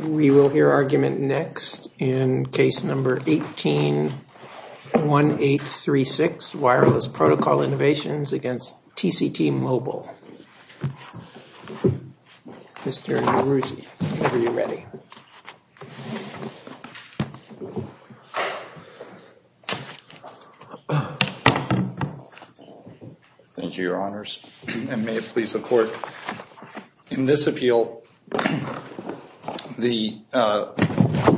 We will hear argument next in case number 181836, Wireless Protocol Innovations against Thank you, Your Honors, and may it please the Court, in this appeal, the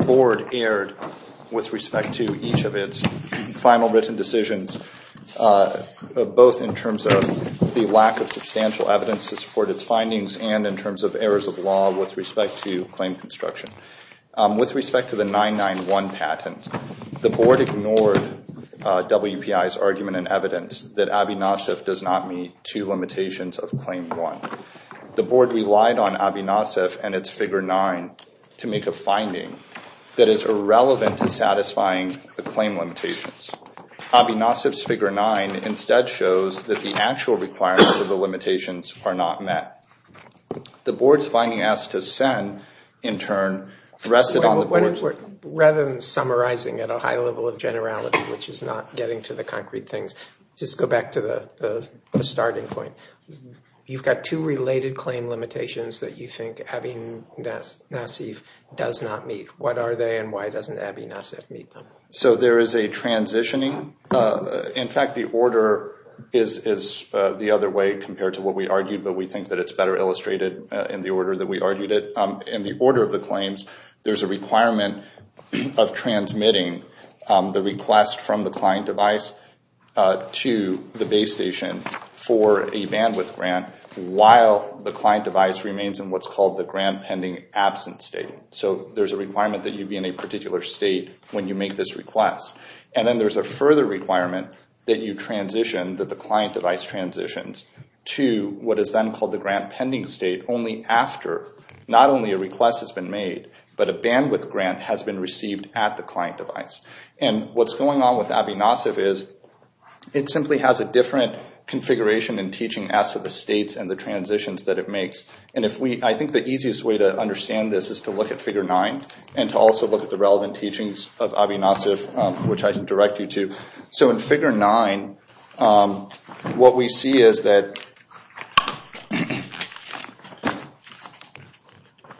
Board erred with respect to each of its final written decisions, both in terms of the lack of substantial evidence to support its findings and in terms of errors of law with respect to claim construction. With respect to the 991 patent, the Board ignored WPI's argument and evidence that ABI-NACIF does not meet two limitations of Claim 1. The Board relied on ABI-NACIF and its Figure 9 to make a finding that is irrelevant to satisfying the claim limitations. ABI-NACIF's Figure 9 instead shows that the actual requirements of the limitations are not met. The Board's finding asked to send, in turn, rested on the Board's... Rather than summarizing at a high level of generality, which is not getting to the concrete things, just go back to the starting point. You've got two related claim limitations that you think ABI-NACIF does not meet. What are they and why doesn't ABI-NACIF meet them? So there is a transitioning. In fact, the order is the other way compared to what we argued, but we think that it's better illustrated in the order that we argued it. In the order of the claims, there's a requirement of transmitting the request from the client device to the base station for a bandwidth grant while the client device remains in what's called the grant pending absence state. So there's a requirement that you be in a particular state when you make this request. And then there's a further requirement that you transition, that the client device transitions to what is then called the grant pending state only after not only a request has been made, but a bandwidth grant has been received at the client device. And what's going on with ABI-NACIF is it simply has a different configuration and teaching as to the states and the transitions that it makes. And I think the easiest way to understand this is to look at Figure 9 and to also look at the relevant teachings of ABI-NACIF, which I can direct you to. So in Figure 9, what we see is that...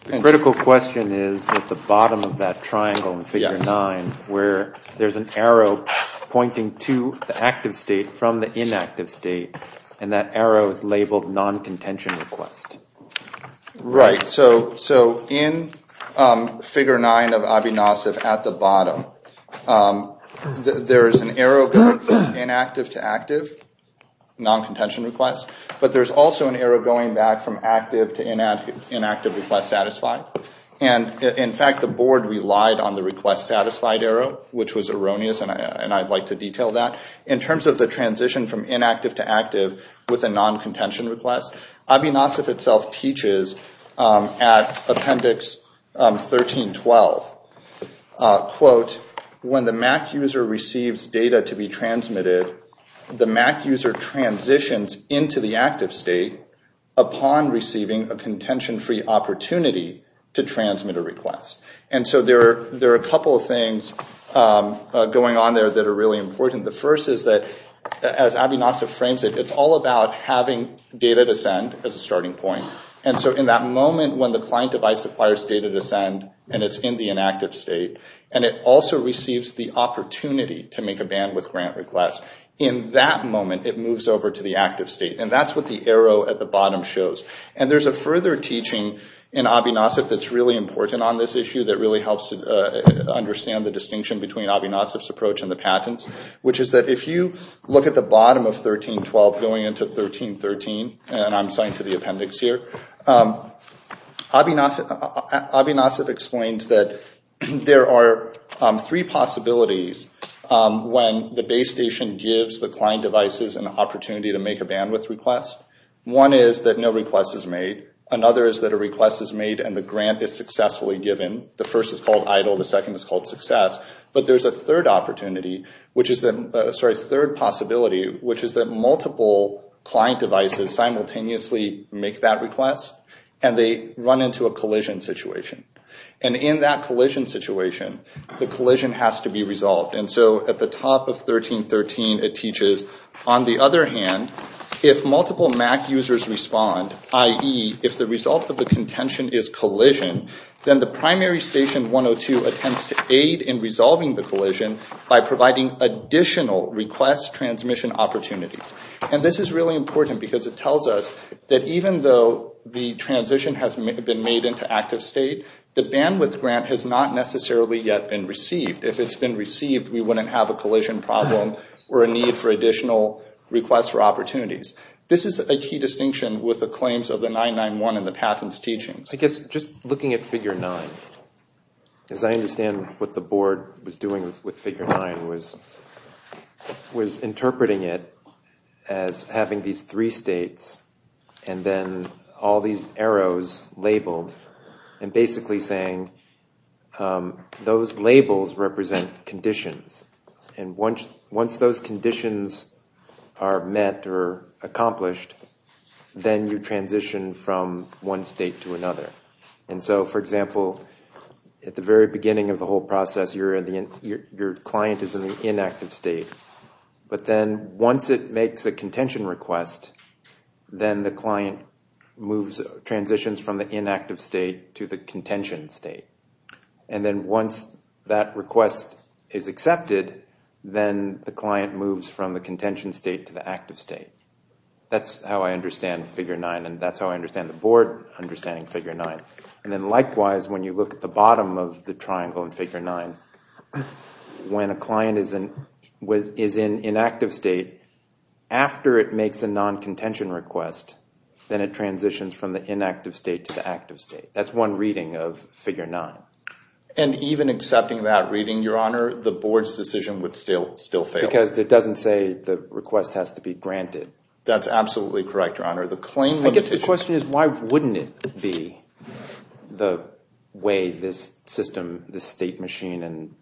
Critical question is at the bottom of that triangle in Figure 9, where there's an arrow pointing to the active state from the inactive state, and that arrow is labeled non-contention request. Right. So in Figure 9 of ABI-NACIF at the bottom, there's an arrow from inactive to active non-contention request, but there's also an arrow going back from active to inactive request satisfied. And in fact, the board relied on the request satisfied arrow, which was erroneous, and I'd like to detail that. In terms of the transition from inactive to active with a non-contention request, ABI-NACIF itself teaches at Appendix 13.12, quote, when the Mac user receives data to be transmitted, the Mac user transitions into the active state upon receiving a contention-free opportunity to transmit a request. And so there are a couple of things going on there that are really important. The first is that as ABI-NACIF frames it, it's all about having data to send as a starting point. And so in that moment when the client device requires data to send, and it's in the inactive state, and it also receives the opportunity to make a bandwidth grant request, in that moment it moves over to the active state. And that's what the arrow at the bottom shows. And there's a further teaching in ABI-NACIF that's really important on this issue that really helps to understand the distinction between ABI-NACIF's and the patents, which is that if you look at the bottom of 13.12 going into 13.13, and I'm assigned to the appendix here, ABI-NACIF explains that there are three possibilities when the base station gives the client devices an opportunity to make a bandwidth request. One is that no request is made. Another is that a request is made and the grant is successfully given. The first is called idle, the second is called success. But there's a third opportunity, which is that, sorry, third possibility, which is that multiple client devices simultaneously make that request and they run into a collision situation. And in that collision situation, the collision has to be resolved. And so at the top of 13.13 it teaches, on the other hand, if multiple MAC users respond, i.e. if the result of the contention is collision, then the primary station 102 attempts to aid in resolving the collision by providing additional request transmission opportunities. And this is really important because it tells us that even though the transition has been made into active state, the bandwidth grant has not necessarily yet been received. If it's been received, we wouldn't have a collision problem or a need for additional requests or opportunities. This is a key distinction with the claims of the teaching. I guess just looking at figure nine, as I understand what the board was doing with figure nine was interpreting it as having these three states and then all these arrows labeled and basically saying those labels represent conditions. And once those conditions are met or accomplished, then you transition from one state to another. And so, for example, at the very beginning of the whole process, your client is in the inactive state. But then once it makes a contention request, then the client transitions from the inactive state to the contention state. And then once that request is accepted, then the client moves from the That's how I understand figure nine and that's how I understand the board understanding figure nine. And then likewise, when you look at the bottom of the triangle in figure nine, when a client is in inactive state, after it makes a non-contention request, then it transitions from the inactive state to the active state. That's one reading of figure nine. And even accepting that reading, Your Honor, the board's decision would still fail. Because it doesn't say the request has to be granted. That's absolutely correct, Your Honor. The claim... I guess the question is, why wouldn't it be the way this system, this state machine in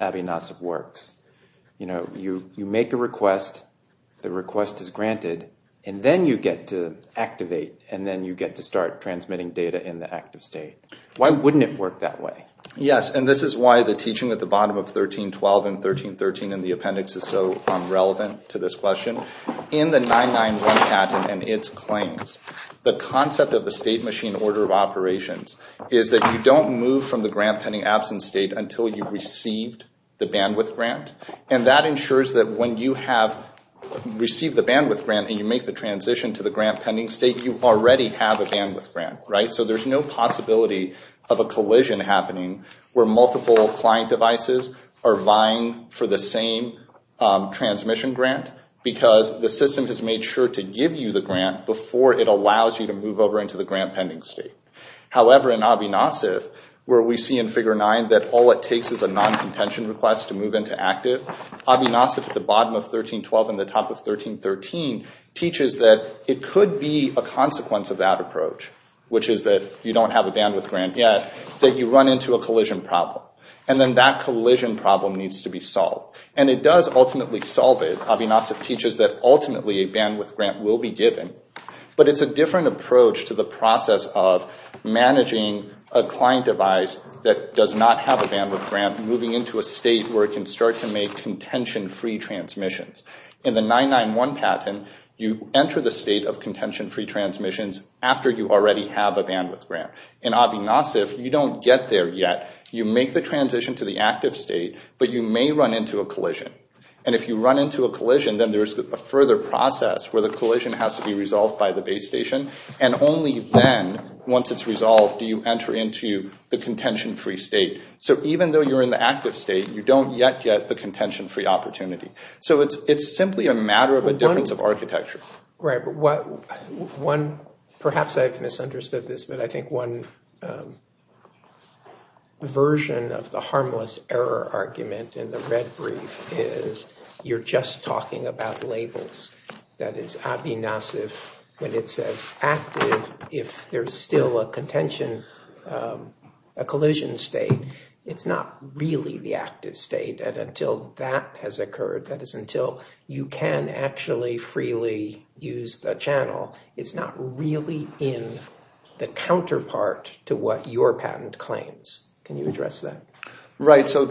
Avinasiv works? You make a request, the request is granted, and then you get to activate and then you get to start transmitting data in the active state. Why wouldn't it work that way? Yes, and this is why the teaching at the bottom of 1312 and 1313 in the appendix is so relevant to this question. In the 991 patent and its claims, the concept of the state machine order of operations is that you don't move from the grant pending absence state until you've received the bandwidth grant. And that ensures that when you have received the bandwidth grant and you make the transition to the grant pending state, you already have a bandwidth grant, right? There's no possibility of a collision happening where multiple client devices are vying for the same transmission grant because the system has made sure to give you the grant before it allows you to move over into the grant pending state. However, in Avinasiv, where we see in Figure 9 that all it takes is a non-contention request to move into active, Avinasiv at the bottom of 1312 and the top of 1313 teaches that it could be a consequence of that approach, which is that you don't have a bandwidth grant yet, that you run into a collision problem. And then that collision problem needs to be solved. And it does ultimately solve it. Avinasiv teaches that ultimately a bandwidth grant will be given, but it's a different approach to the process of managing a client device that does not have a bandwidth grant, moving into a state where it can start to make contention-free transmissions. In the 991 patent, you enter the state of contention-free transmissions after you already have a bandwidth grant. In Avinasiv, you don't get there yet. You make the transition to the active state, but you may run into a collision. And if you run into a collision, then there's a further process where the collision has to be resolved by the base station. And only then, once it's resolved, do you enter into the contention-free state. So even though you're in the active state, you don't yet get the contention-free opportunity. So it's simply a matter of a difference of architecture. Right. Perhaps I've misunderstood this, but I think one version of the harmless error argument in the red brief is you're just talking about labels. That is, Avinasiv, when it says active, if there's still a contention, a collision state, it's not really the active state. And until that has occurred, that is, until you can actually freely use the channel, it's not really in the counterpart to what your patent claims. Can you address that? Right. So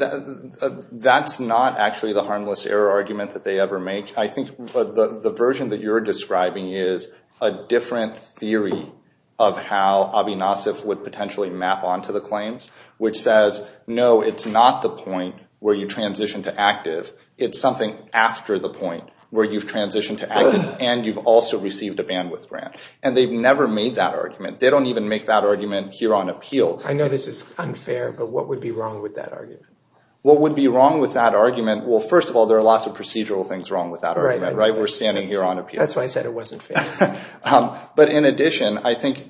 that's not actually the harmless error argument that they ever make. I think the version that you're describing is a different theory of how Avinasiv would no, it's not the point where you transition to active. It's something after the point where you've transitioned to active and you've also received a bandwidth grant. And they've never made that argument. They don't even make that argument here on appeal. I know this is unfair, but what would be wrong with that argument? What would be wrong with that argument? Well, first of all, there are lots of procedural things wrong with that argument, right? We're standing here on appeal. That's why I said it wasn't fair. But in addition, I think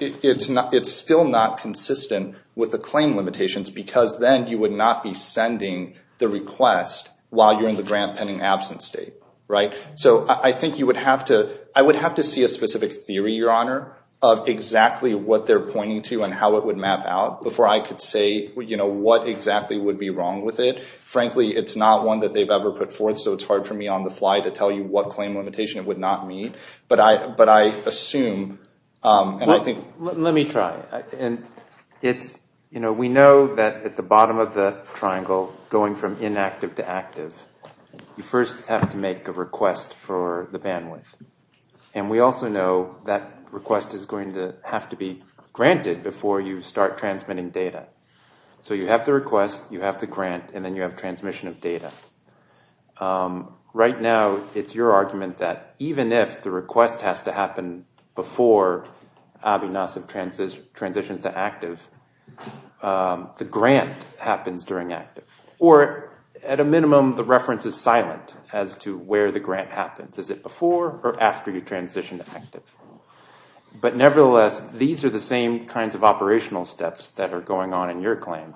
it's still not consistent with the claim limitations because then you would not be sending the request while you're in the grant pending absence state, right? So I think you would have to, I would have to see a specific theory, Your Honor, of exactly what they're pointing to and how it would map out before I could say what exactly would be wrong with it. Frankly, it's not one that they've ever put forth. So it's hard for me on the fly to tell you what claim limitation it would not meet. But I assume, and I think- Well, let me try. We know that at the bottom of the triangle, going from inactive to active, you first have to make a request for the bandwidth. And we also know that request is going to have to be granted before you start transmitting data. So you have the request, you have the grant, and then you have transmission of data. Right now, it's your argument that even if the request has to happen before ABI-NASA transitions to active, the grant happens during active. Or at a minimum, the reference is silent as to where the grant happens. Is it before or after you transition to active? But nevertheless, these are the same kinds of operational steps that are going on in your claim.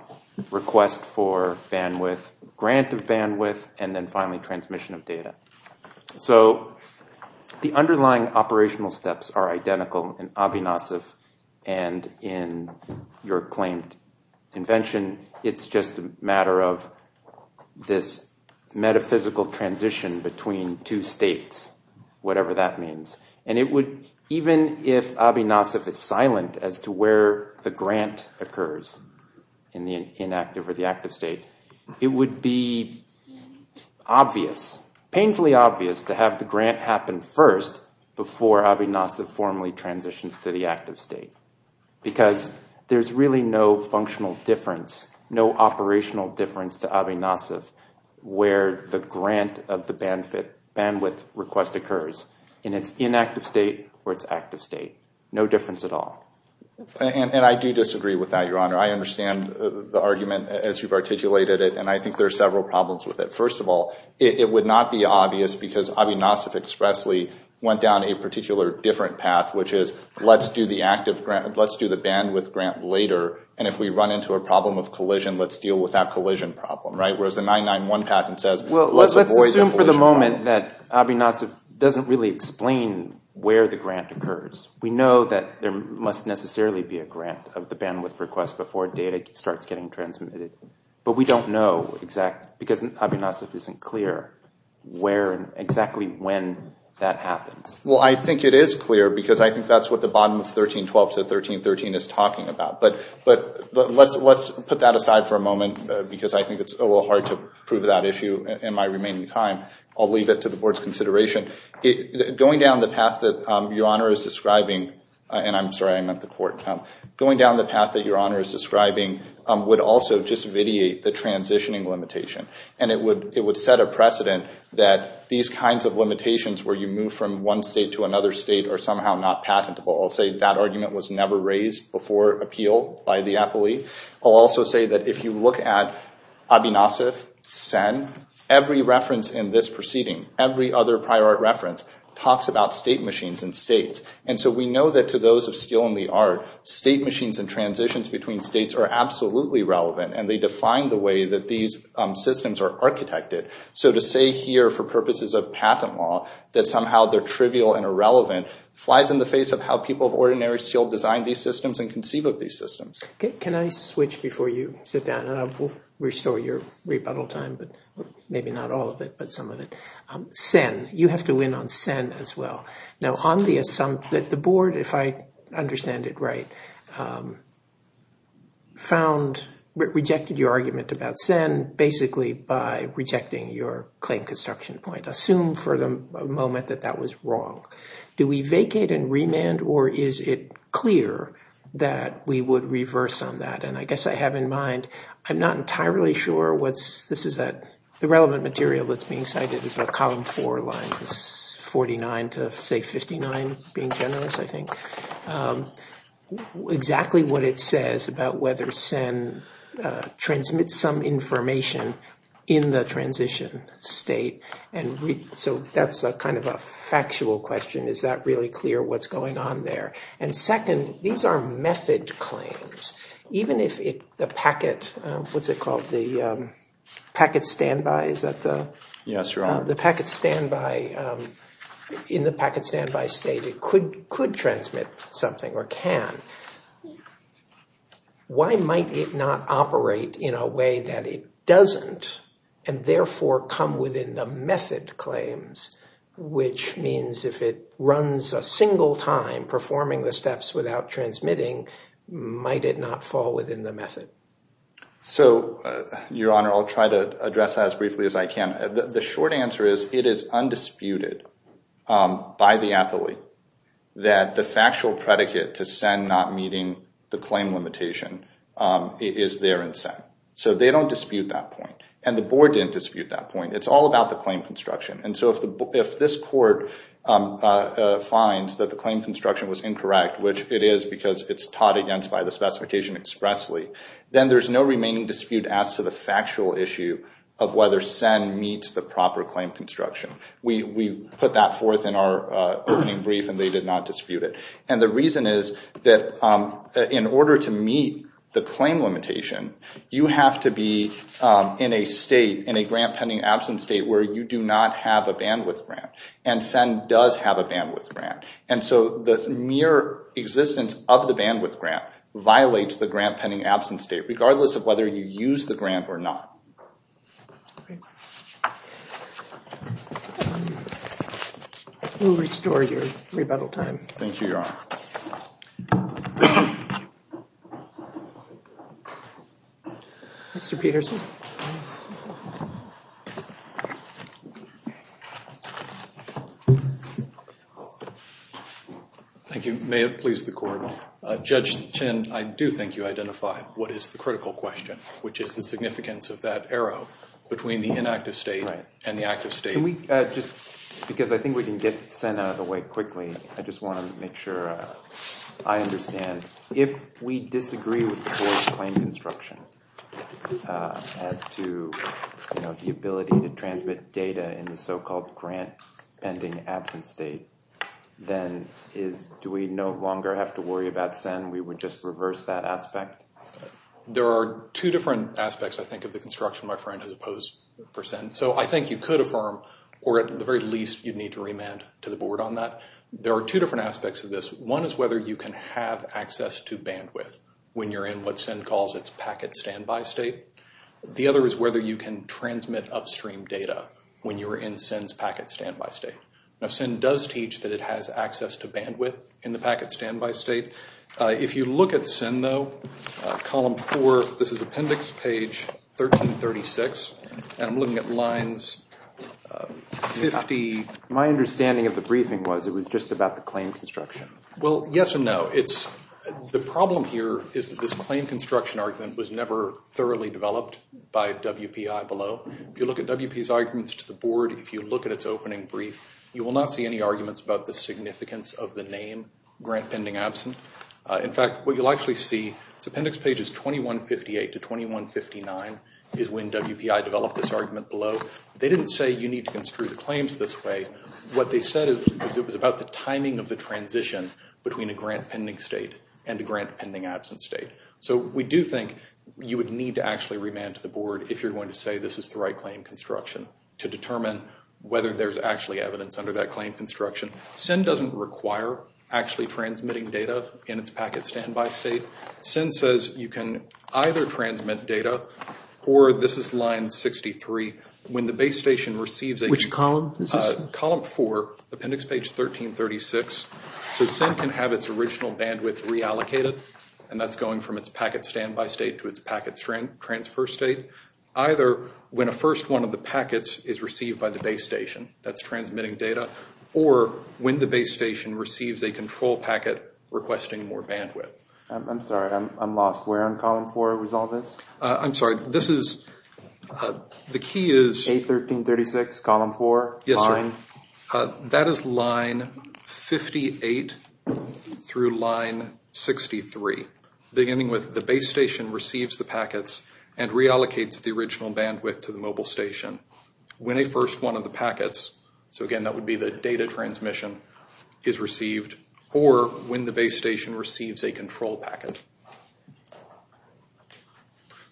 Request for bandwidth, grant of bandwidth, and then finally transmission of data. So the underlying operational steps are identical in ABI-NASA and in your claimed invention. It's just a matter of this metaphysical transition between two states, whatever that means. And it would, even if ABI-NASA is silent as to where the grant occurs in the inactive or the active state, it would be obvious, painfully obvious, to have the grant happen first before ABI-NASA formally transitions to the active state. Because there's really no functional difference, no operational difference to ABI-NASA where the grant of the bandwidth request occurs in its inactive state or its active state. No difference at all. And I do disagree with that, Your Honor. I understand the argument as you've articulated it, and I think there are several problems with it. First of all, it would not be obvious because ABI-NASA expressly went down a particular different path, which is, let's do the bandwidth grant later, and if we run into a problem of collision, let's deal with that collision problem, right? Whereas the 991 patent says, let's avoid that collision problem. Well, let's assume for the moment that ABI-NASA doesn't really explain where the grant occurs. We know that there must necessarily be a grant of the bandwidth request before data starts getting transmitted, but we don't know exactly, because ABI-NASA isn't clear exactly when that happens. Well, I think it is clear because I think that's what the bottom of 1312 to 1313 is talking about. But let's put that aside for a moment because I think it's a little hard to prove that issue in my remaining time. I'll leave it to the Board's consideration. Going down the path that Your Honor is describing, and I'm sorry, I meant the court, going down the path that Your Honor is describing would also just vitiate the transitioning limitation, and it would set a precedent that these kinds of limitations where you move from one state to another state are somehow not patentable. I'll say that argument was never raised before appeal by the appellee. I'll also say that if you look at ABI-NASA, SIN, every reference in this proceeding, every other prior art reference talks about state machines and states, and so we know that to those of skill in the art, state machines and transitions between states are absolutely relevant, and they define the way that these systems are architected. So to say here for purposes of patent law that somehow they're trivial and irrelevant flies in the face of how people of ordinary skill design these systems and conceive of these but maybe not all of it, but some of it. SIN, you have to win on SIN as well. Now on the assumption that the Board, if I understand it right, found, rejected your argument about SIN basically by rejecting your claim construction point. Assume for the moment that that was wrong. Do we vacate and remand, or is it clear that we would reverse on that? And I guess I have in mind, I'm not entirely sure what's, this is a, the relevant material that's being cited is about column four lines 49 to say 59, being generous I think, exactly what it says about whether SIN transmits some information in the transition state, and so that's a kind of a factual question. Is that really clear what's going on there? And second, these are method claims. Even if the packet, what's it called, the packet standby, is that the? Yes, your honor. The packet standby, in the packet standby state, it could transmit something or can. Why might it not operate in a way that it doesn't and therefore come within the method claims, which means if it runs a single time performing the steps without transmitting, might it not fall within the method? So your honor, I'll try to address as briefly as I can. The short answer is it is undisputed by the appellate that the factual predicate to SIN not meeting the claim limitation is there in SIN. So they don't dispute that point, and the board didn't dispute that point. It's all about the claim construction, and so if this court finds that the claim construction was incorrect, which it is because it's taught against by the specification expressly, then there's no remaining dispute as to the factual issue of whether SIN meets the proper claim construction. We put that forth in our opening brief, and they did not dispute it, and the reason is that in order to meet the claim limitation, you have to be in a state, in a grant pending absence state, where you do not have a bandwidth grant, and SIN does have a bandwidth grant, and so the mere existence of the bandwidth grant violates the grant pending absence state, regardless of whether you use the grant or not. We'll restore your rebuttal time. Thank you, your honor. Mr. Peterson. Thank you. May it please the court. Judge Chin, I do think you identified what is the critical question, which is the significance of that arrow between the inactive state and the active state. Can we just, because I think we can get SIN out of the way quickly, I just want to make sure I understand. If we disagree with the board's claim construction as to, you know, the ability to transmit data in the so-called grant pending absence state, then is, do we no longer have to worry about SIN? We would just reverse that aspect? There are two different aspects, I think, of the construction, my friend, as opposed for SIN, so I think you could affirm, or at the very least, you'd need to remand to the board on that. There are two different aspects of this. One is whether you can have access to bandwidth when you're in what SIN calls its packet standby state. The other is whether you can transmit upstream data when you're in SIN's packet standby state. Now SIN does teach that it has access to bandwidth in the packet standby state. If you look at SIN, though, column four, this is appendix page 1336, and I'm looking at lines 50. My understanding of claim construction. Well, yes and no. The problem here is that this claim construction argument was never thoroughly developed by WPI below. If you look at WPI's arguments to the board, if you look at its opening brief, you will not see any arguments about the significance of the name grant pending absent. In fact, what you'll actually see is appendix pages 2158 to 2159 is when WPI developed this argument below. They didn't say you need to construe the claims this way. What they said is it was about the timing of the transition between a grant pending state and a grant pending absent state. So we do think you would need to actually remand to the board if you're going to say this is the right claim construction to determine whether there's actually evidence under that claim construction. SIN doesn't require actually transmitting data in its packet standby state. SIN says you can either transmit data, or this is line 63, when the base station receives a... Which column is this? Column 4, appendix page 1336. So SIN can have its original bandwidth reallocated, and that's going from its packet standby state to its packet transfer state. Either when a first one of the packets is received by the base station, that's transmitting data, or when the base station receives a control packet requesting more bandwidth. I'm sorry, I'm Yes, sir. That is line 58 through line 63, beginning with the base station receives the packets and reallocates the original bandwidth to the mobile station when a first one of the packets, so again that would be the data transmission, is received, or when the base station receives a control packet.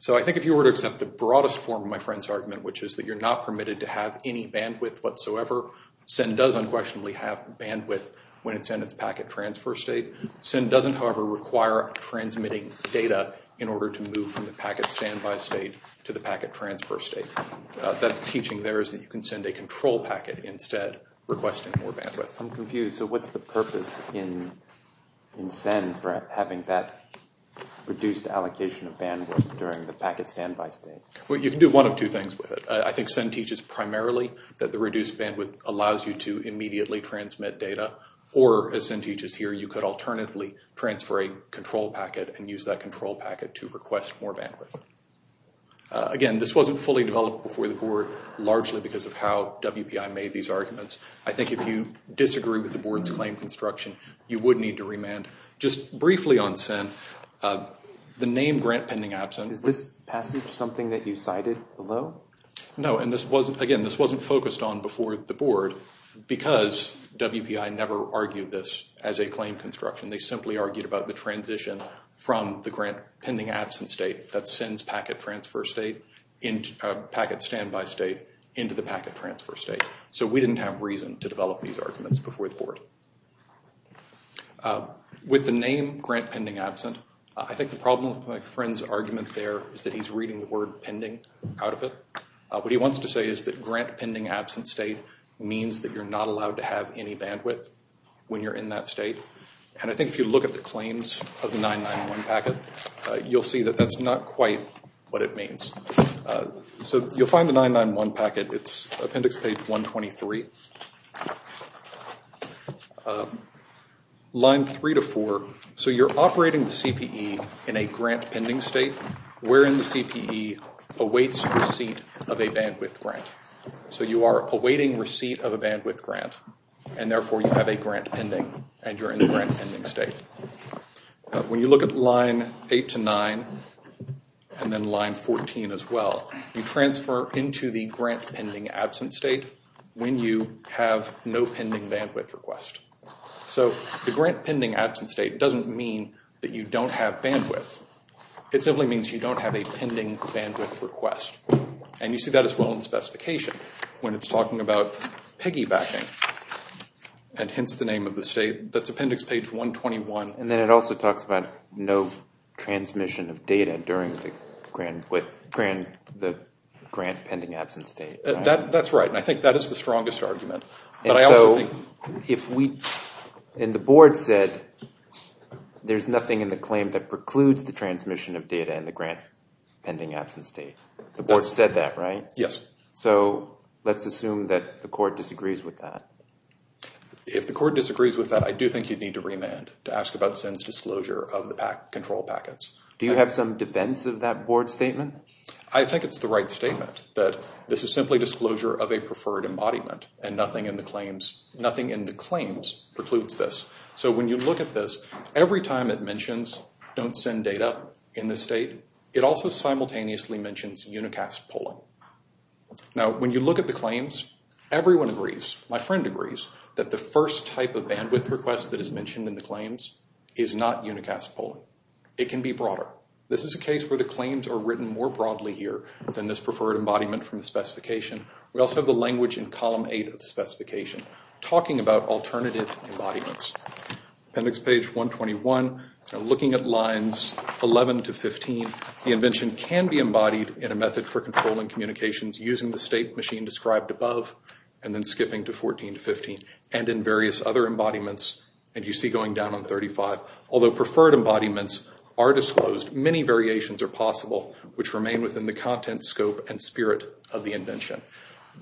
So I think if you were to accept the broadest form of my friend's argument, which is that you're not permitted to have any bandwidth whatsoever, SIN does unquestionably have bandwidth when it's in its packet transfer state. SIN doesn't however require transmitting data in order to move from the packet standby state to the packet transfer state. That's teaching there is that you can send a control packet instead, requesting more bandwidth. I'm confused, so what's the purpose in SIN for having that reduced allocation of bandwidth during the packet standby state? Well, you can do one of two things with it. I think SIN teaches primarily that the reduced bandwidth allows you to immediately transmit data, or as SIN teaches here, you could alternatively transfer a control packet and use that control packet to request more bandwidth. Again, this wasn't fully developed before the board, largely because of how WPI made these arguments. I think if you disagree with the board's claim construction, you would need to remand. Just briefly on SIN, the name grant pending absence. Is this passage something that you cited below? No, and this wasn't, again, this wasn't focused on before the board, because WPI never argued this as a claim construction. They simply argued about the transition from the grant pending absence state that sends packet transfer state, packet standby state, into the packet transfer state. So we didn't have reason to develop these arguments before the board. With the name grant pending absent, I think the problem with my friend's argument there is that he's reading the word pending out of it. What he wants to say is that grant pending absent state means that you're not allowed to have any bandwidth when you're in that state, and I think if you look at the claims of the 991 packet, you'll see that that's not quite what it means. So you'll find the 991 packet, it's appendix page 123, line three to four. So you're operating the CPE in a grant pending state wherein the CPE awaits receipt of a bandwidth grant. So you are awaiting receipt of a bandwidth grant and therefore you have a grant pending and you're in the grant pending state. When you look at line eight to nine and then line 14 as well, you transfer into the grant pending absent state when you have no pending bandwidth request. So the grant pending absent state doesn't mean that you don't have bandwidth. It simply means you don't have a pending bandwidth request, and you see that as well in the specification when it's talking about piggybacking and hence the name of the state. That's appendix page 121. And then it also talks about no transmission of data during the grant pending absent state. That's right, and I think that is the strongest argument. And the board said there's nothing in the claim that precludes the transmission of data in the grant pending absent state. The board said that, yes. So let's assume that the court disagrees with that. If the court disagrees with that, I do think you'd need to remand to ask about SIN's disclosure of the control packets. Do you have some defense of that board statement? I think it's the right statement that this is simply disclosure of a preferred embodiment and nothing in the claims precludes this. So when you look at this, every time it mentions don't send data in this state, it also simultaneously mentions unicast polling. Now when you look at the claims, everyone agrees, my friend agrees, that the first type of bandwidth request that is mentioned in the claims is not unicast polling. It can be broader. This is a case where the claims are written more broadly here than this preferred embodiment from the specification. We also have the language in column eight of the specification talking about alternative embodiments. Appendix page 121, looking at lines 11 to 15, the invention can be embodied in a method for controlling communications using the state machine described above and then skipping to 14 to 15 and in various other embodiments, and you see going down on 35. Although preferred embodiments are disclosed, many variations are possible which remain within the content, scope, and spirit of the invention.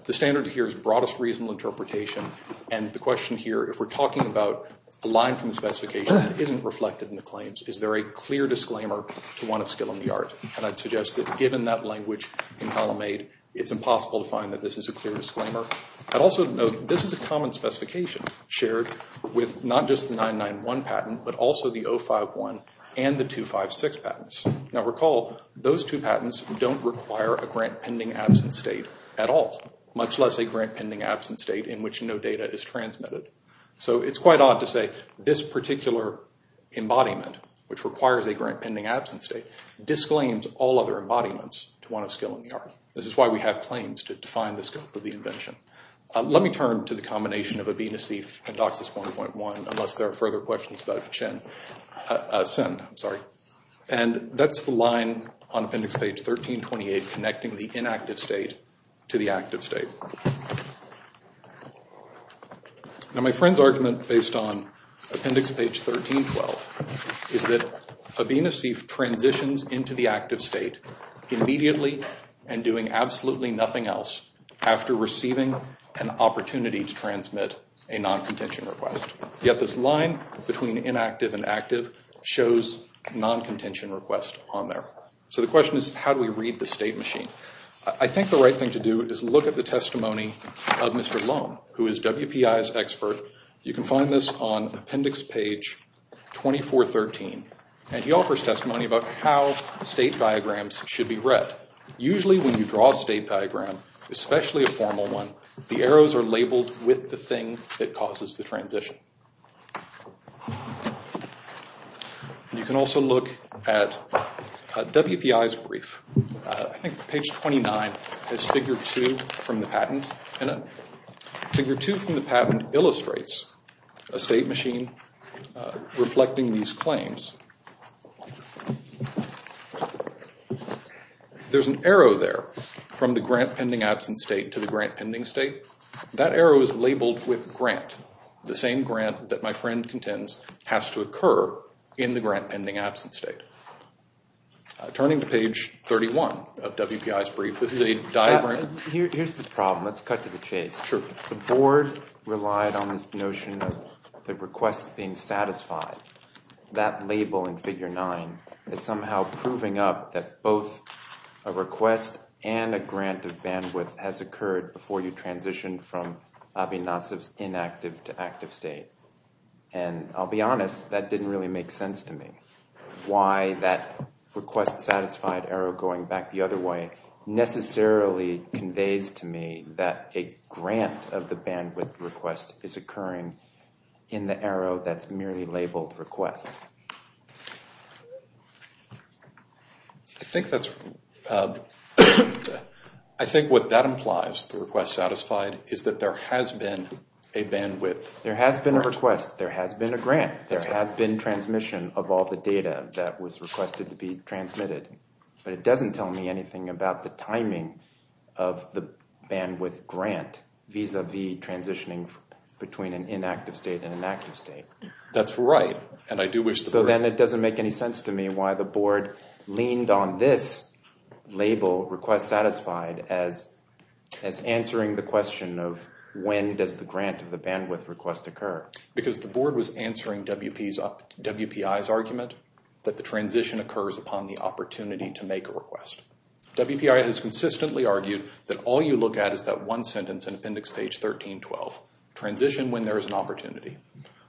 The standard here is broadest reasonable interpretation and the question here, if we're talking about line from the specification isn't reflected in the claims, is there a clear disclaimer to one of skill in the art? And I'd suggest that given that language in column eight, it's impossible to find that this is a clear disclaimer. I'd also note this is a common specification shared with not just the 991 patent but also the 051 and the 256 patents. Now recall, those two patents don't require a grant pending absent state at all, much less a grant pending absent state in which no data is transmitted. So it's quite odd to say this particular embodiment, which requires a grant pending absent state, disclaims all other embodiments to one of skill in the art. This is why we have claims to define the scope of the invention. Let me turn to the combination of A, B, and C in DOCSIS 1.1 unless there are further questions about CIN. And that's the line on appendix page 1328 connecting the inactive state to the active state. Now my friend's argument based on appendix page 1312 is that A, B, and a C transitions into the active state immediately and doing absolutely nothing else after receiving an opportunity to transmit a non-contention request. Yet this line between inactive and active shows non-contention request on there. So the question is how do we read the state machine? I think the right thing to do is look at the testimony of Mr. Loam who is WPI's expert. You can find this on appendix page 2413 and he offers testimony about how state diagrams should be read. Usually when you draw a state diagram, especially a formal one, the arrows are labeled with the thing that causes the transition. You can also look at WPI's brief. I think page 29 is figure 2 from the patent. Figure 2 from the patent illustrates a state machine reflecting these claims. There's an arrow there from the grant pending absent state to the grant pending state. That arrow is labeled with grant. The same grant that my friend contends has to occur in the grant pending absent state. Turning to page 31 of WPI's brief, this is a diagram. Here's the problem. Let's cut to the chase. The board relied on this notion of the request being satisfied. That label in figure 9 is somehow proving up that both a request and a grant of Avinasov's inactive to active state. I'll be honest, that didn't really make sense to me. Why that request satisfied arrow going back the other way necessarily conveys to me that a grant of the bandwidth request is occurring in the arrow that's merely labeled request. I think what that implies, the request satisfied, is that there has been a bandwidth. There has been a request. There has been a grant. There has been transmission of all the data that was requested to be transmitted, but it doesn't tell me anything about the timing of the bandwidth grant vis-a-vis transitioning between an inactive state and an active state. That's right, and I do wish... So then it doesn't make any sense to me why the board leaned on this label, request satisfied, as answering the question of when does the grant of the bandwidth request occur. Because the board was answering WPI's argument that the transition occurs upon the opportunity to make a request. WPI has consistently argued that all you look at is that one sentence in appendix page 1312. Transition when there is an opportunity.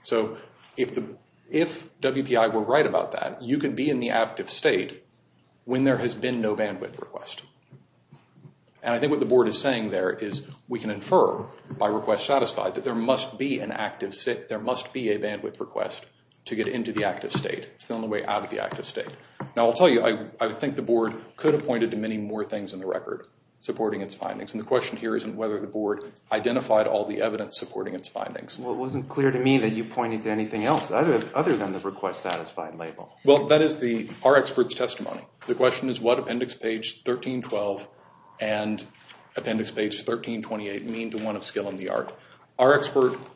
So if WPI were right about that, you could be in the active state when there has been no bandwidth request. And I think what the board is saying there is we can infer by request satisfied that there must be a bandwidth request to get into the active state. It's the only way out of the active state. Now I'll tell you, I think the board could have pointed to many more things in the whether the board identified all the evidence supporting its findings. Well it wasn't clear to me that you pointed to anything else other than the request satisfied label. Well that is our expert's testimony. The question is what appendix page 1312 and appendix page 1328 mean to one of skill in the art.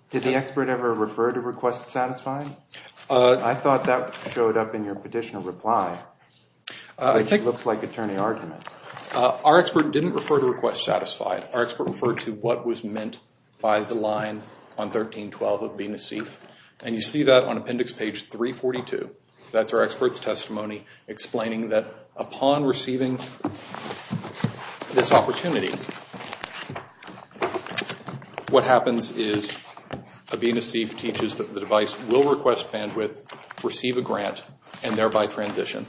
Did the expert ever refer to request satisfied? I thought that showed up in your petitioner reply. I think it looks like attorney argument. Our expert didn't refer to request satisfied. Our expert referred to what was meant by the line on 1312 of BNC. And you see that on appendix page 342. That's our expert's testimony explaining that upon receiving this opportunity, what happens is a BNC teaches that the device will request bandwidth, receive a grant, and thereby transition.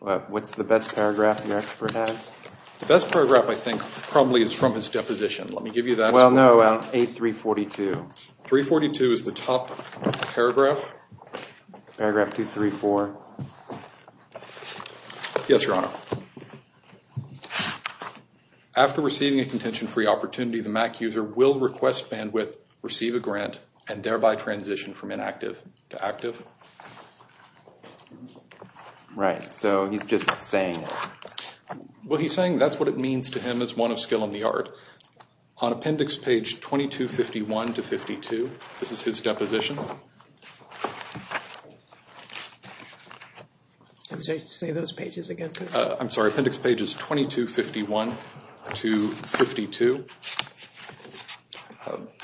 What's the best paragraph your expert has? The best paragraph I think probably is from his deposition. Let me give you that. Well no, 8342. 342 is the top paragraph. Paragraph 234. Yes your honor. After receiving a contention-free opportunity, the MAC user will request bandwidth, receive a grant, and thereby transition from inactive to active. Right, so he's just saying that. Well he's saying that's what it means to him as one of skill in the art. On appendix page 2251 to 52, this is his deposition. Can you say those pages again please? I'm sorry appendix pages 2251 to 52.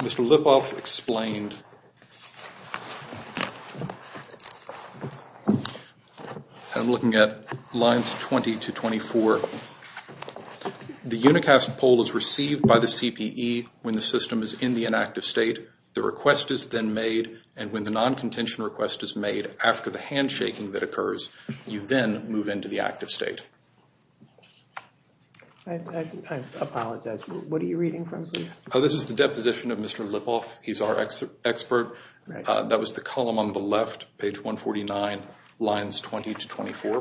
Mr. Lipov explained. I'm looking at lines 20 to 24. The unicast poll is received by the CPE when the system is in the inactive state. The request is then made, and when the non-contention request is made after the handshaking that occurs, you then move into the active state. I apologize, what are you reading from please? This is the deposition of Mr. Lipov. He's our expert. That was the column on the left, page 149, lines 20 to 24.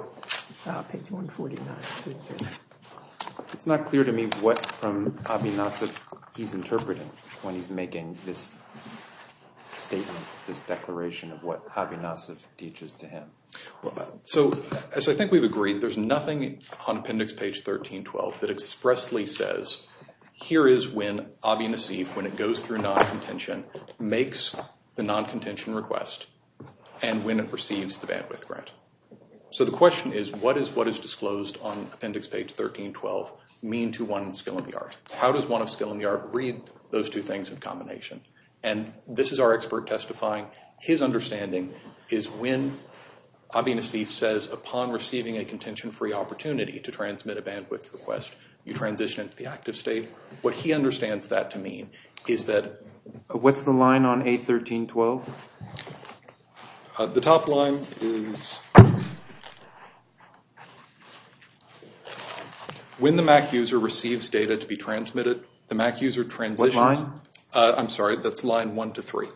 Page 149. It's not clear to me what from Abinasov he's interpreting when he's making this statement, this declaration of what Abinasov teaches to him. So I think we've agreed there's nothing on appendix page 1312 that expressly says here is when Abinasov, when it goes through non-contention, makes the non-contention request, and when it receives the bandwidth grant. So the question is what is what is disclosed on appendix page 1312 mean to one skill in the art? How does one of skill in the art read those two things in combination? And this is our expert testifying. His understanding is when Abinasov says upon receiving a contention-free opportunity to transmit a bandwidth request, you transition into the active state. What he understands that to mean is that... What's the line on A1312? The top line is when the MAC user receives data to be transmitted, the MAC user transitions... What line? I'm sorry, that's line one to three.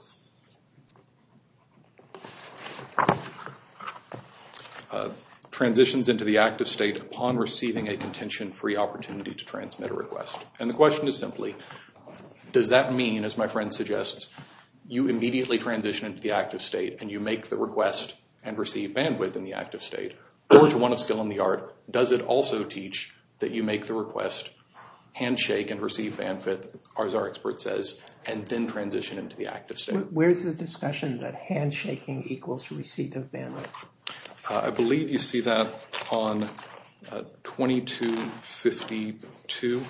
Transitions into the active state upon receiving a contention-free opportunity to transmit a request. And the question is simply, does that mean, as my friend suggests, you immediately transition into the active state and you make the request and receive bandwidth in the active state? Or to one of skill in the art, does it also teach that you make the request, handshake, and receive bandwidth, as our expert says, and then transition into the active state? Where's the discussion that handshaking equals receipt of bandwidth? I believe you see that on 2252.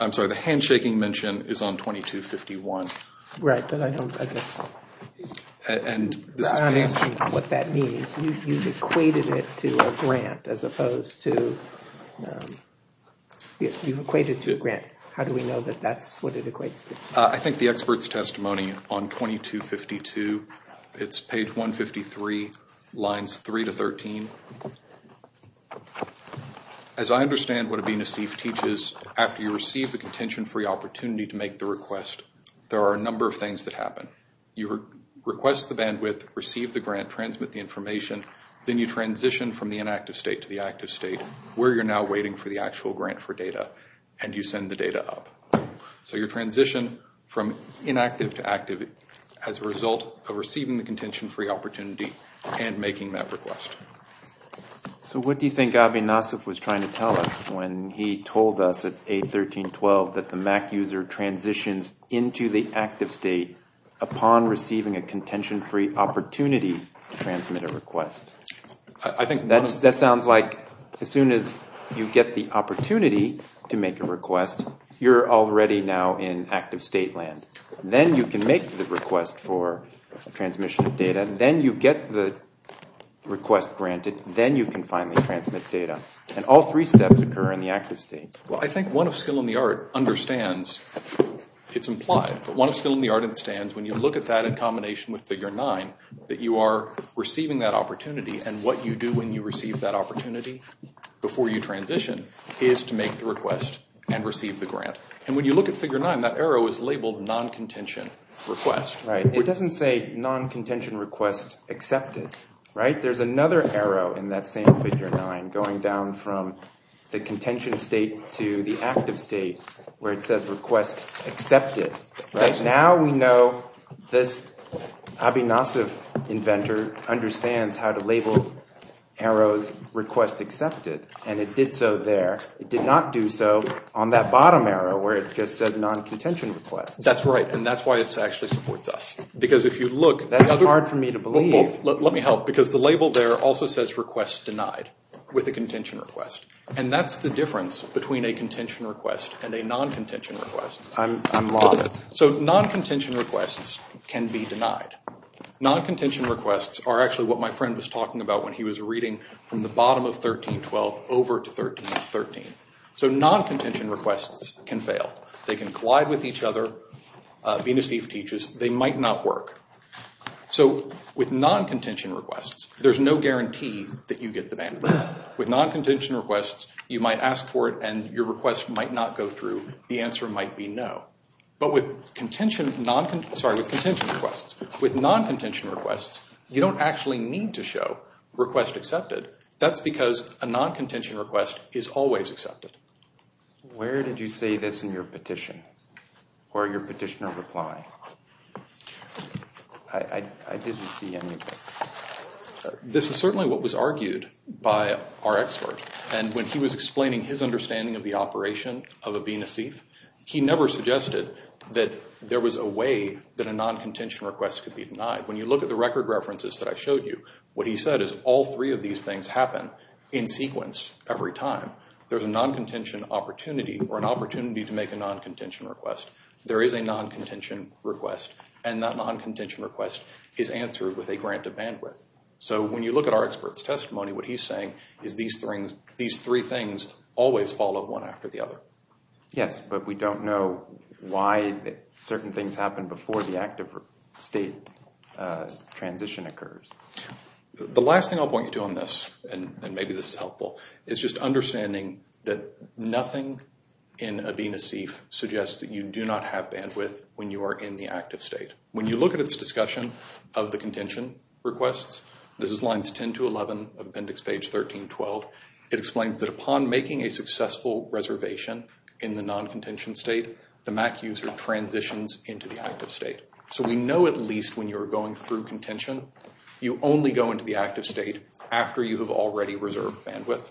I'm sorry, the handshaking mention is on 2251. Right, but I don't... And I'm asking what that means. You've equated it to a grant as opposed to... You've equated to a grant. How do we know that that's what it equates to? I think the expert's testimony on 2252, it's page 153, lines 3 to 13. As I understand what a BNC teaches, after you receive a contention-free opportunity to make the request, there are a number of things that happen. You request the bandwidth, receive the grant, transmit the information, then you transition from the inactive state to the active state, where you're now waiting for the actual grant for data, and you send the data up. So you transition from inactive to active as a result of receiving the contention-free opportunity and making that request. So what do you think Abin Nassif was trying to tell us when he told us at 8.13.12 that the MAC user transitions into the active state upon receiving a contention-free opportunity to transmit a request? That sounds like as soon as you get the opportunity to make a request, you're already now in active state land. Then you can make the request for transmission of data. Then you get the request granted. Then you can finally transmit data. And all three steps occur in the active state. Well, I think one of skill in the art understands, it's implied, but one of the skills in the art is that you are receiving that opportunity, and what you do when you receive that opportunity before you transition is to make the request and receive the grant. And when you look at Figure 9, that arrow is labeled non-contention request. Right. It doesn't say non-contention request accepted, right? There's another arrow in that same Figure 9 going down from the contention state to the active state, where it says request accepted. Now we know this Aby Nassif inventor understands how to label arrows request accepted, and it did so there. It did not do so on that bottom arrow, where it just says non-contention request. That's right, and that's why it actually supports us. Because if you look... That's hard for me to believe. Let me help, because the label there also says request denied with a contention request, and that's the difference between a contention request and a non-contention request. I'm lost. So non-contention requests can be denied. Non-contention requests are actually what my friend was talking about when he was reading from the bottom of 13.12 over to 13.13. So non-contention requests can fail. They can collide with each other. Aby Nassif teaches they might not work. So with non-contention requests, there's no guarantee that you get the bandwidth. With non-contention requests, you might ask for it and your request might not go through. The answer might be no. But with contention... Sorry, with contention requests. With non-contention requests, you don't actually need to show request accepted. That's because a non-contention request is always accepted. Where did you say this in your petition or your petitioner reply? I didn't see any of this. This is certainly what was argued by our expert, and when he was explaining his understanding of the operation of Aby Nassif, he never suggested that there was a way that a non-contention request could be denied. When you look at the record references that I showed you, what he said is all three of these things happen in sequence every time. There's a non-contention opportunity or an opportunity to make a non-contention request. There is a non-contention request, and that non-contention request is answered with a grant of bandwidth. So when you look at our Yes, but we don't know why certain things happen before the active state transition occurs. The last thing I'll point you to on this, and maybe this is helpful, is just understanding that nothing in Aby Nassif suggests that you do not have bandwidth when you are in the active state. When you look at its discussion of the contention requests, this is lines 10 to 11 of appendix page 1312, it explains that upon making a successful reservation in the non-contention state, the MAC user transitions into the active state. So we know at least when you're going through contention, you only go into the active state after you have already reserved bandwidth.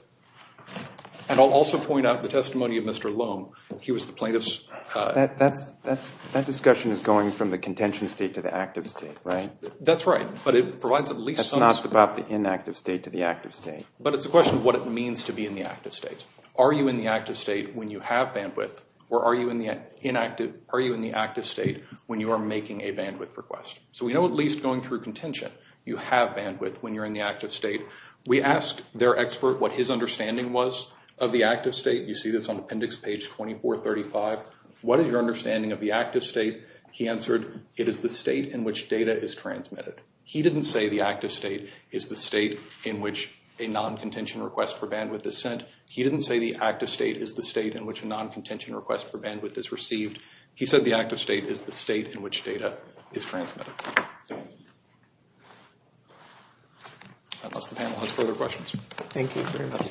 And I'll also point out the testimony of Mr. Loam. He was the plaintiff's... That discussion is going from the contention state to the active state, right? That's right, but it provides at least... About the inactive state to the active state. But it's a question of what it means to be in the active state. Are you in the active state when you have bandwidth, or are you in the active state when you are making a bandwidth request? So we know at least going through contention, you have bandwidth when you're in the active state. We asked their expert what his understanding was of the active state. You see this on appendix page 2435. What is your understanding of the active state? He answered, it is the state in which data is transmitted. He didn't say the active state is the state in which a non-contention request for bandwidth is sent. He didn't say the active state is the state in which a non-contention request for bandwidth is received. He said the active state is the state in which data is transmitted. Unless the panel has further questions. Thank you very much.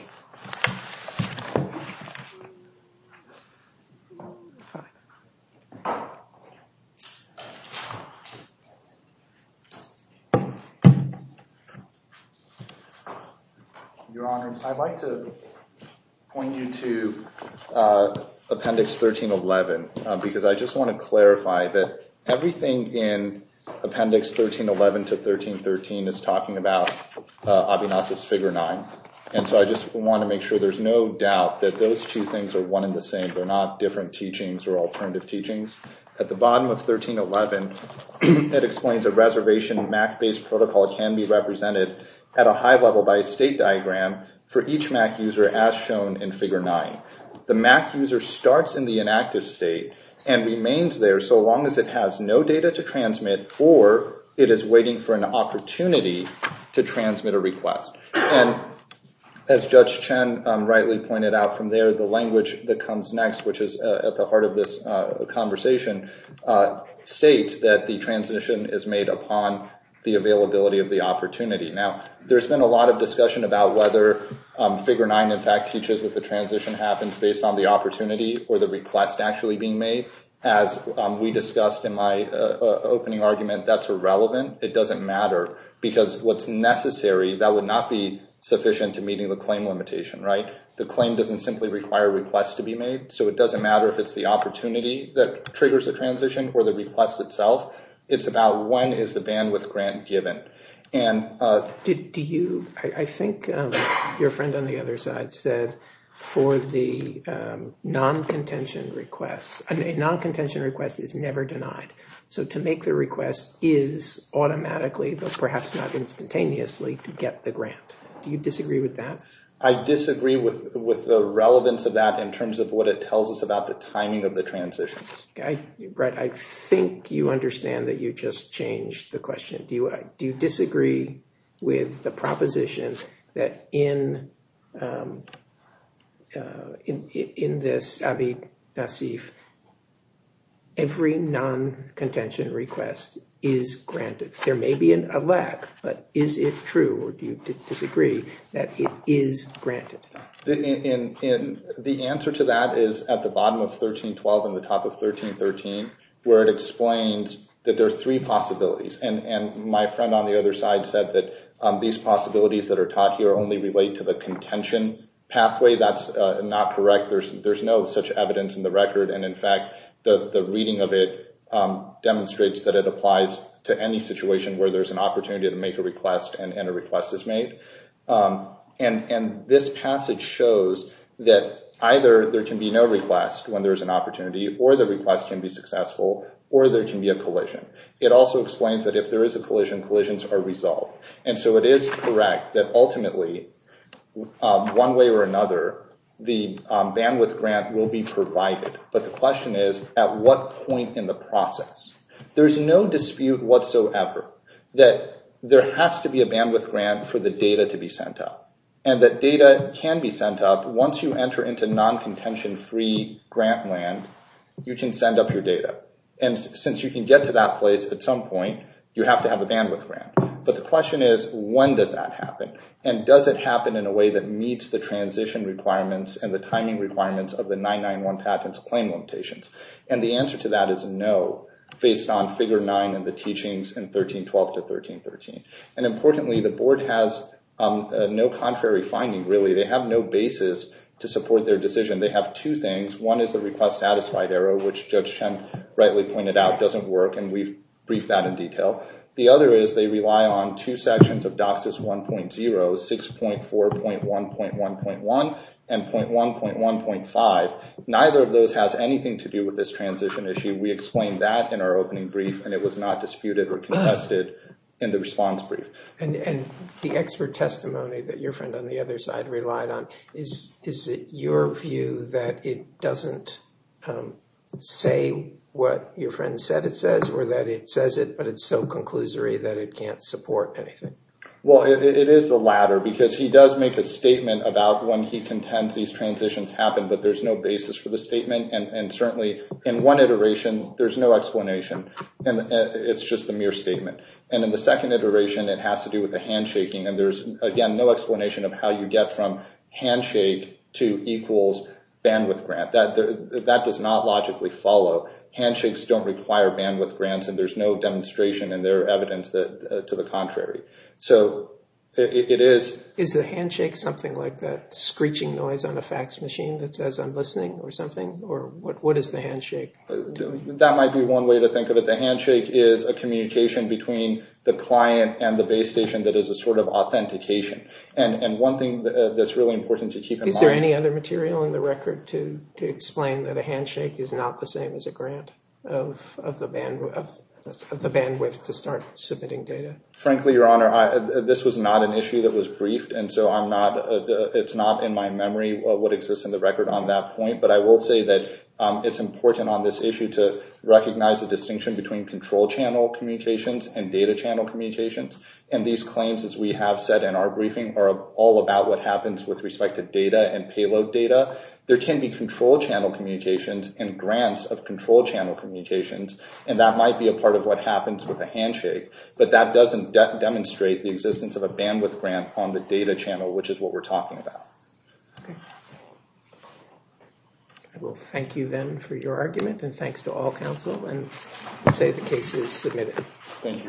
Your Honor, I'd like to point you to appendix 1311 because I just want to clarify that everything in appendix 1311 to 1313 is talking about Abinasi's figure nine. And so I just want to make sure there's no doubt that those two things are one and the same. They're not different teachings or alternative teachings. At the bottom of 1311, it explains a reservation MAC-based protocol can be represented at a high level by a state diagram for each MAC user as shown in figure nine. The MAC user starts in the inactive state and remains there so long as it has no data to transmit or it is waiting for an opportunity to transmit a request. And as Judge Chen rightly pointed out from there, the language that comes next, which is at the heart of this conversation, states that the transition is made upon the availability of the opportunity. Now, there's been a lot of discussion about whether figure nine in fact teaches that the transition happens based on the opportunity or the request actually being made. As we discussed in my opening argument, that's irrelevant. It doesn't matter because what's necessary, that would not be sufficient to meeting the claim limitation, right? The claim doesn't simply require requests to be made, so it doesn't matter if it's the opportunity that triggers the transition or the request itself. It's about when is the bandwidth grant given. I think your friend on the other side said for the non-contention request, a non-contention request is never denied. So to make the request is automatically, but perhaps not instantaneously, to get the grant. Do you disagree with that? I disagree with the relevance of that in terms of what it tells us about the timing of the transition. Right, I think you understand that you just changed the question. Do you disagree with the proposition that in this AVID-NACIF, every non-contention request is granted? There may be a lack, but is it true or do you disagree that it is granted? The answer to that is at the bottom of 1312 and the top of 1313, where it explains that there are three possibilities. My friend on the other side said that these possibilities that are taught here only relate to the contention pathway. That's not correct. There's no such evidence in record. In fact, the reading of it demonstrates that it applies to any situation where there's an opportunity to make a request and a request is made. This passage shows that either there can be no request when there's an opportunity, or the request can be successful, or there can be a collision. It also explains that if there is a collision, collisions are resolved. It is correct that ultimately, one way or another, the bandwidth grant will be provided. But the question is, at what point in the process? There's no dispute whatsoever that there has to be a bandwidth grant for the data to be sent up and that data can be sent up. Once you enter into non-contention-free grant land, you can send up your data. Since you can get to that place at some point, you have to have a bandwidth grant. But the question is, when does that happen? And does it happen in a way that meets the transition requirements and the timing requirements of the 991 patents claim limitations? And the answer to that is no, based on Figure 9 and the teachings in 1312 to 1313. And importantly, the Board has no contrary finding, really. They have no basis to support their decision. They have two things. One is the request-satisfied error, which Judge Chen rightly pointed out doesn't work, and we've briefed that in detail. The other is they rely on two sections of DOCSIS 1.0, 6.4.1.1.1 and .1.1.5. Neither of those has anything to do with this transition issue. We explained that in our opening brief and it was not disputed or contested in the response brief. And the expert testimony that your friend on the other side relied on, is it your view that it doesn't say what your friend said it says or that it says it, but it's so conclusory that it can't support anything? Well, it is the latter, because he does make a statement about when he contends these transitions happen, but there's no basis for the statement. And certainly in one iteration, there's no explanation. It's just a mere statement. And in the second iteration, it has to do with the handshaking. And there's, again, no explanation of how you get from that. That does not logically follow. Handshakes don't require bandwidth grants, and there's no demonstration in their evidence to the contrary. So it is... Is the handshake something like that screeching noise on a fax machine that says I'm listening or something? Or what is the handshake? That might be one way to think of it. The handshake is a communication between the client and the base station that is a sort of authentication. And one thing that's really important to keep in mind... To explain that a handshake is not the same as a grant of the bandwidth to start submitting data. Frankly, Your Honor, this was not an issue that was briefed. And so it's not in my memory what exists in the record on that point. But I will say that it's important on this issue to recognize the distinction between control channel communications and data channel communications. And these claims, as we have said in our briefing, are all about what happens with respect to data and payload data. There can be control channel communications and grants of control channel communications, and that might be a part of what happens with a handshake. But that doesn't demonstrate the existence of a bandwidth grant on the data channel, which is what we're talking about. I will thank you then for your argument, and thanks to all counsel, and say the case is submitted. Thank you, Your Honor.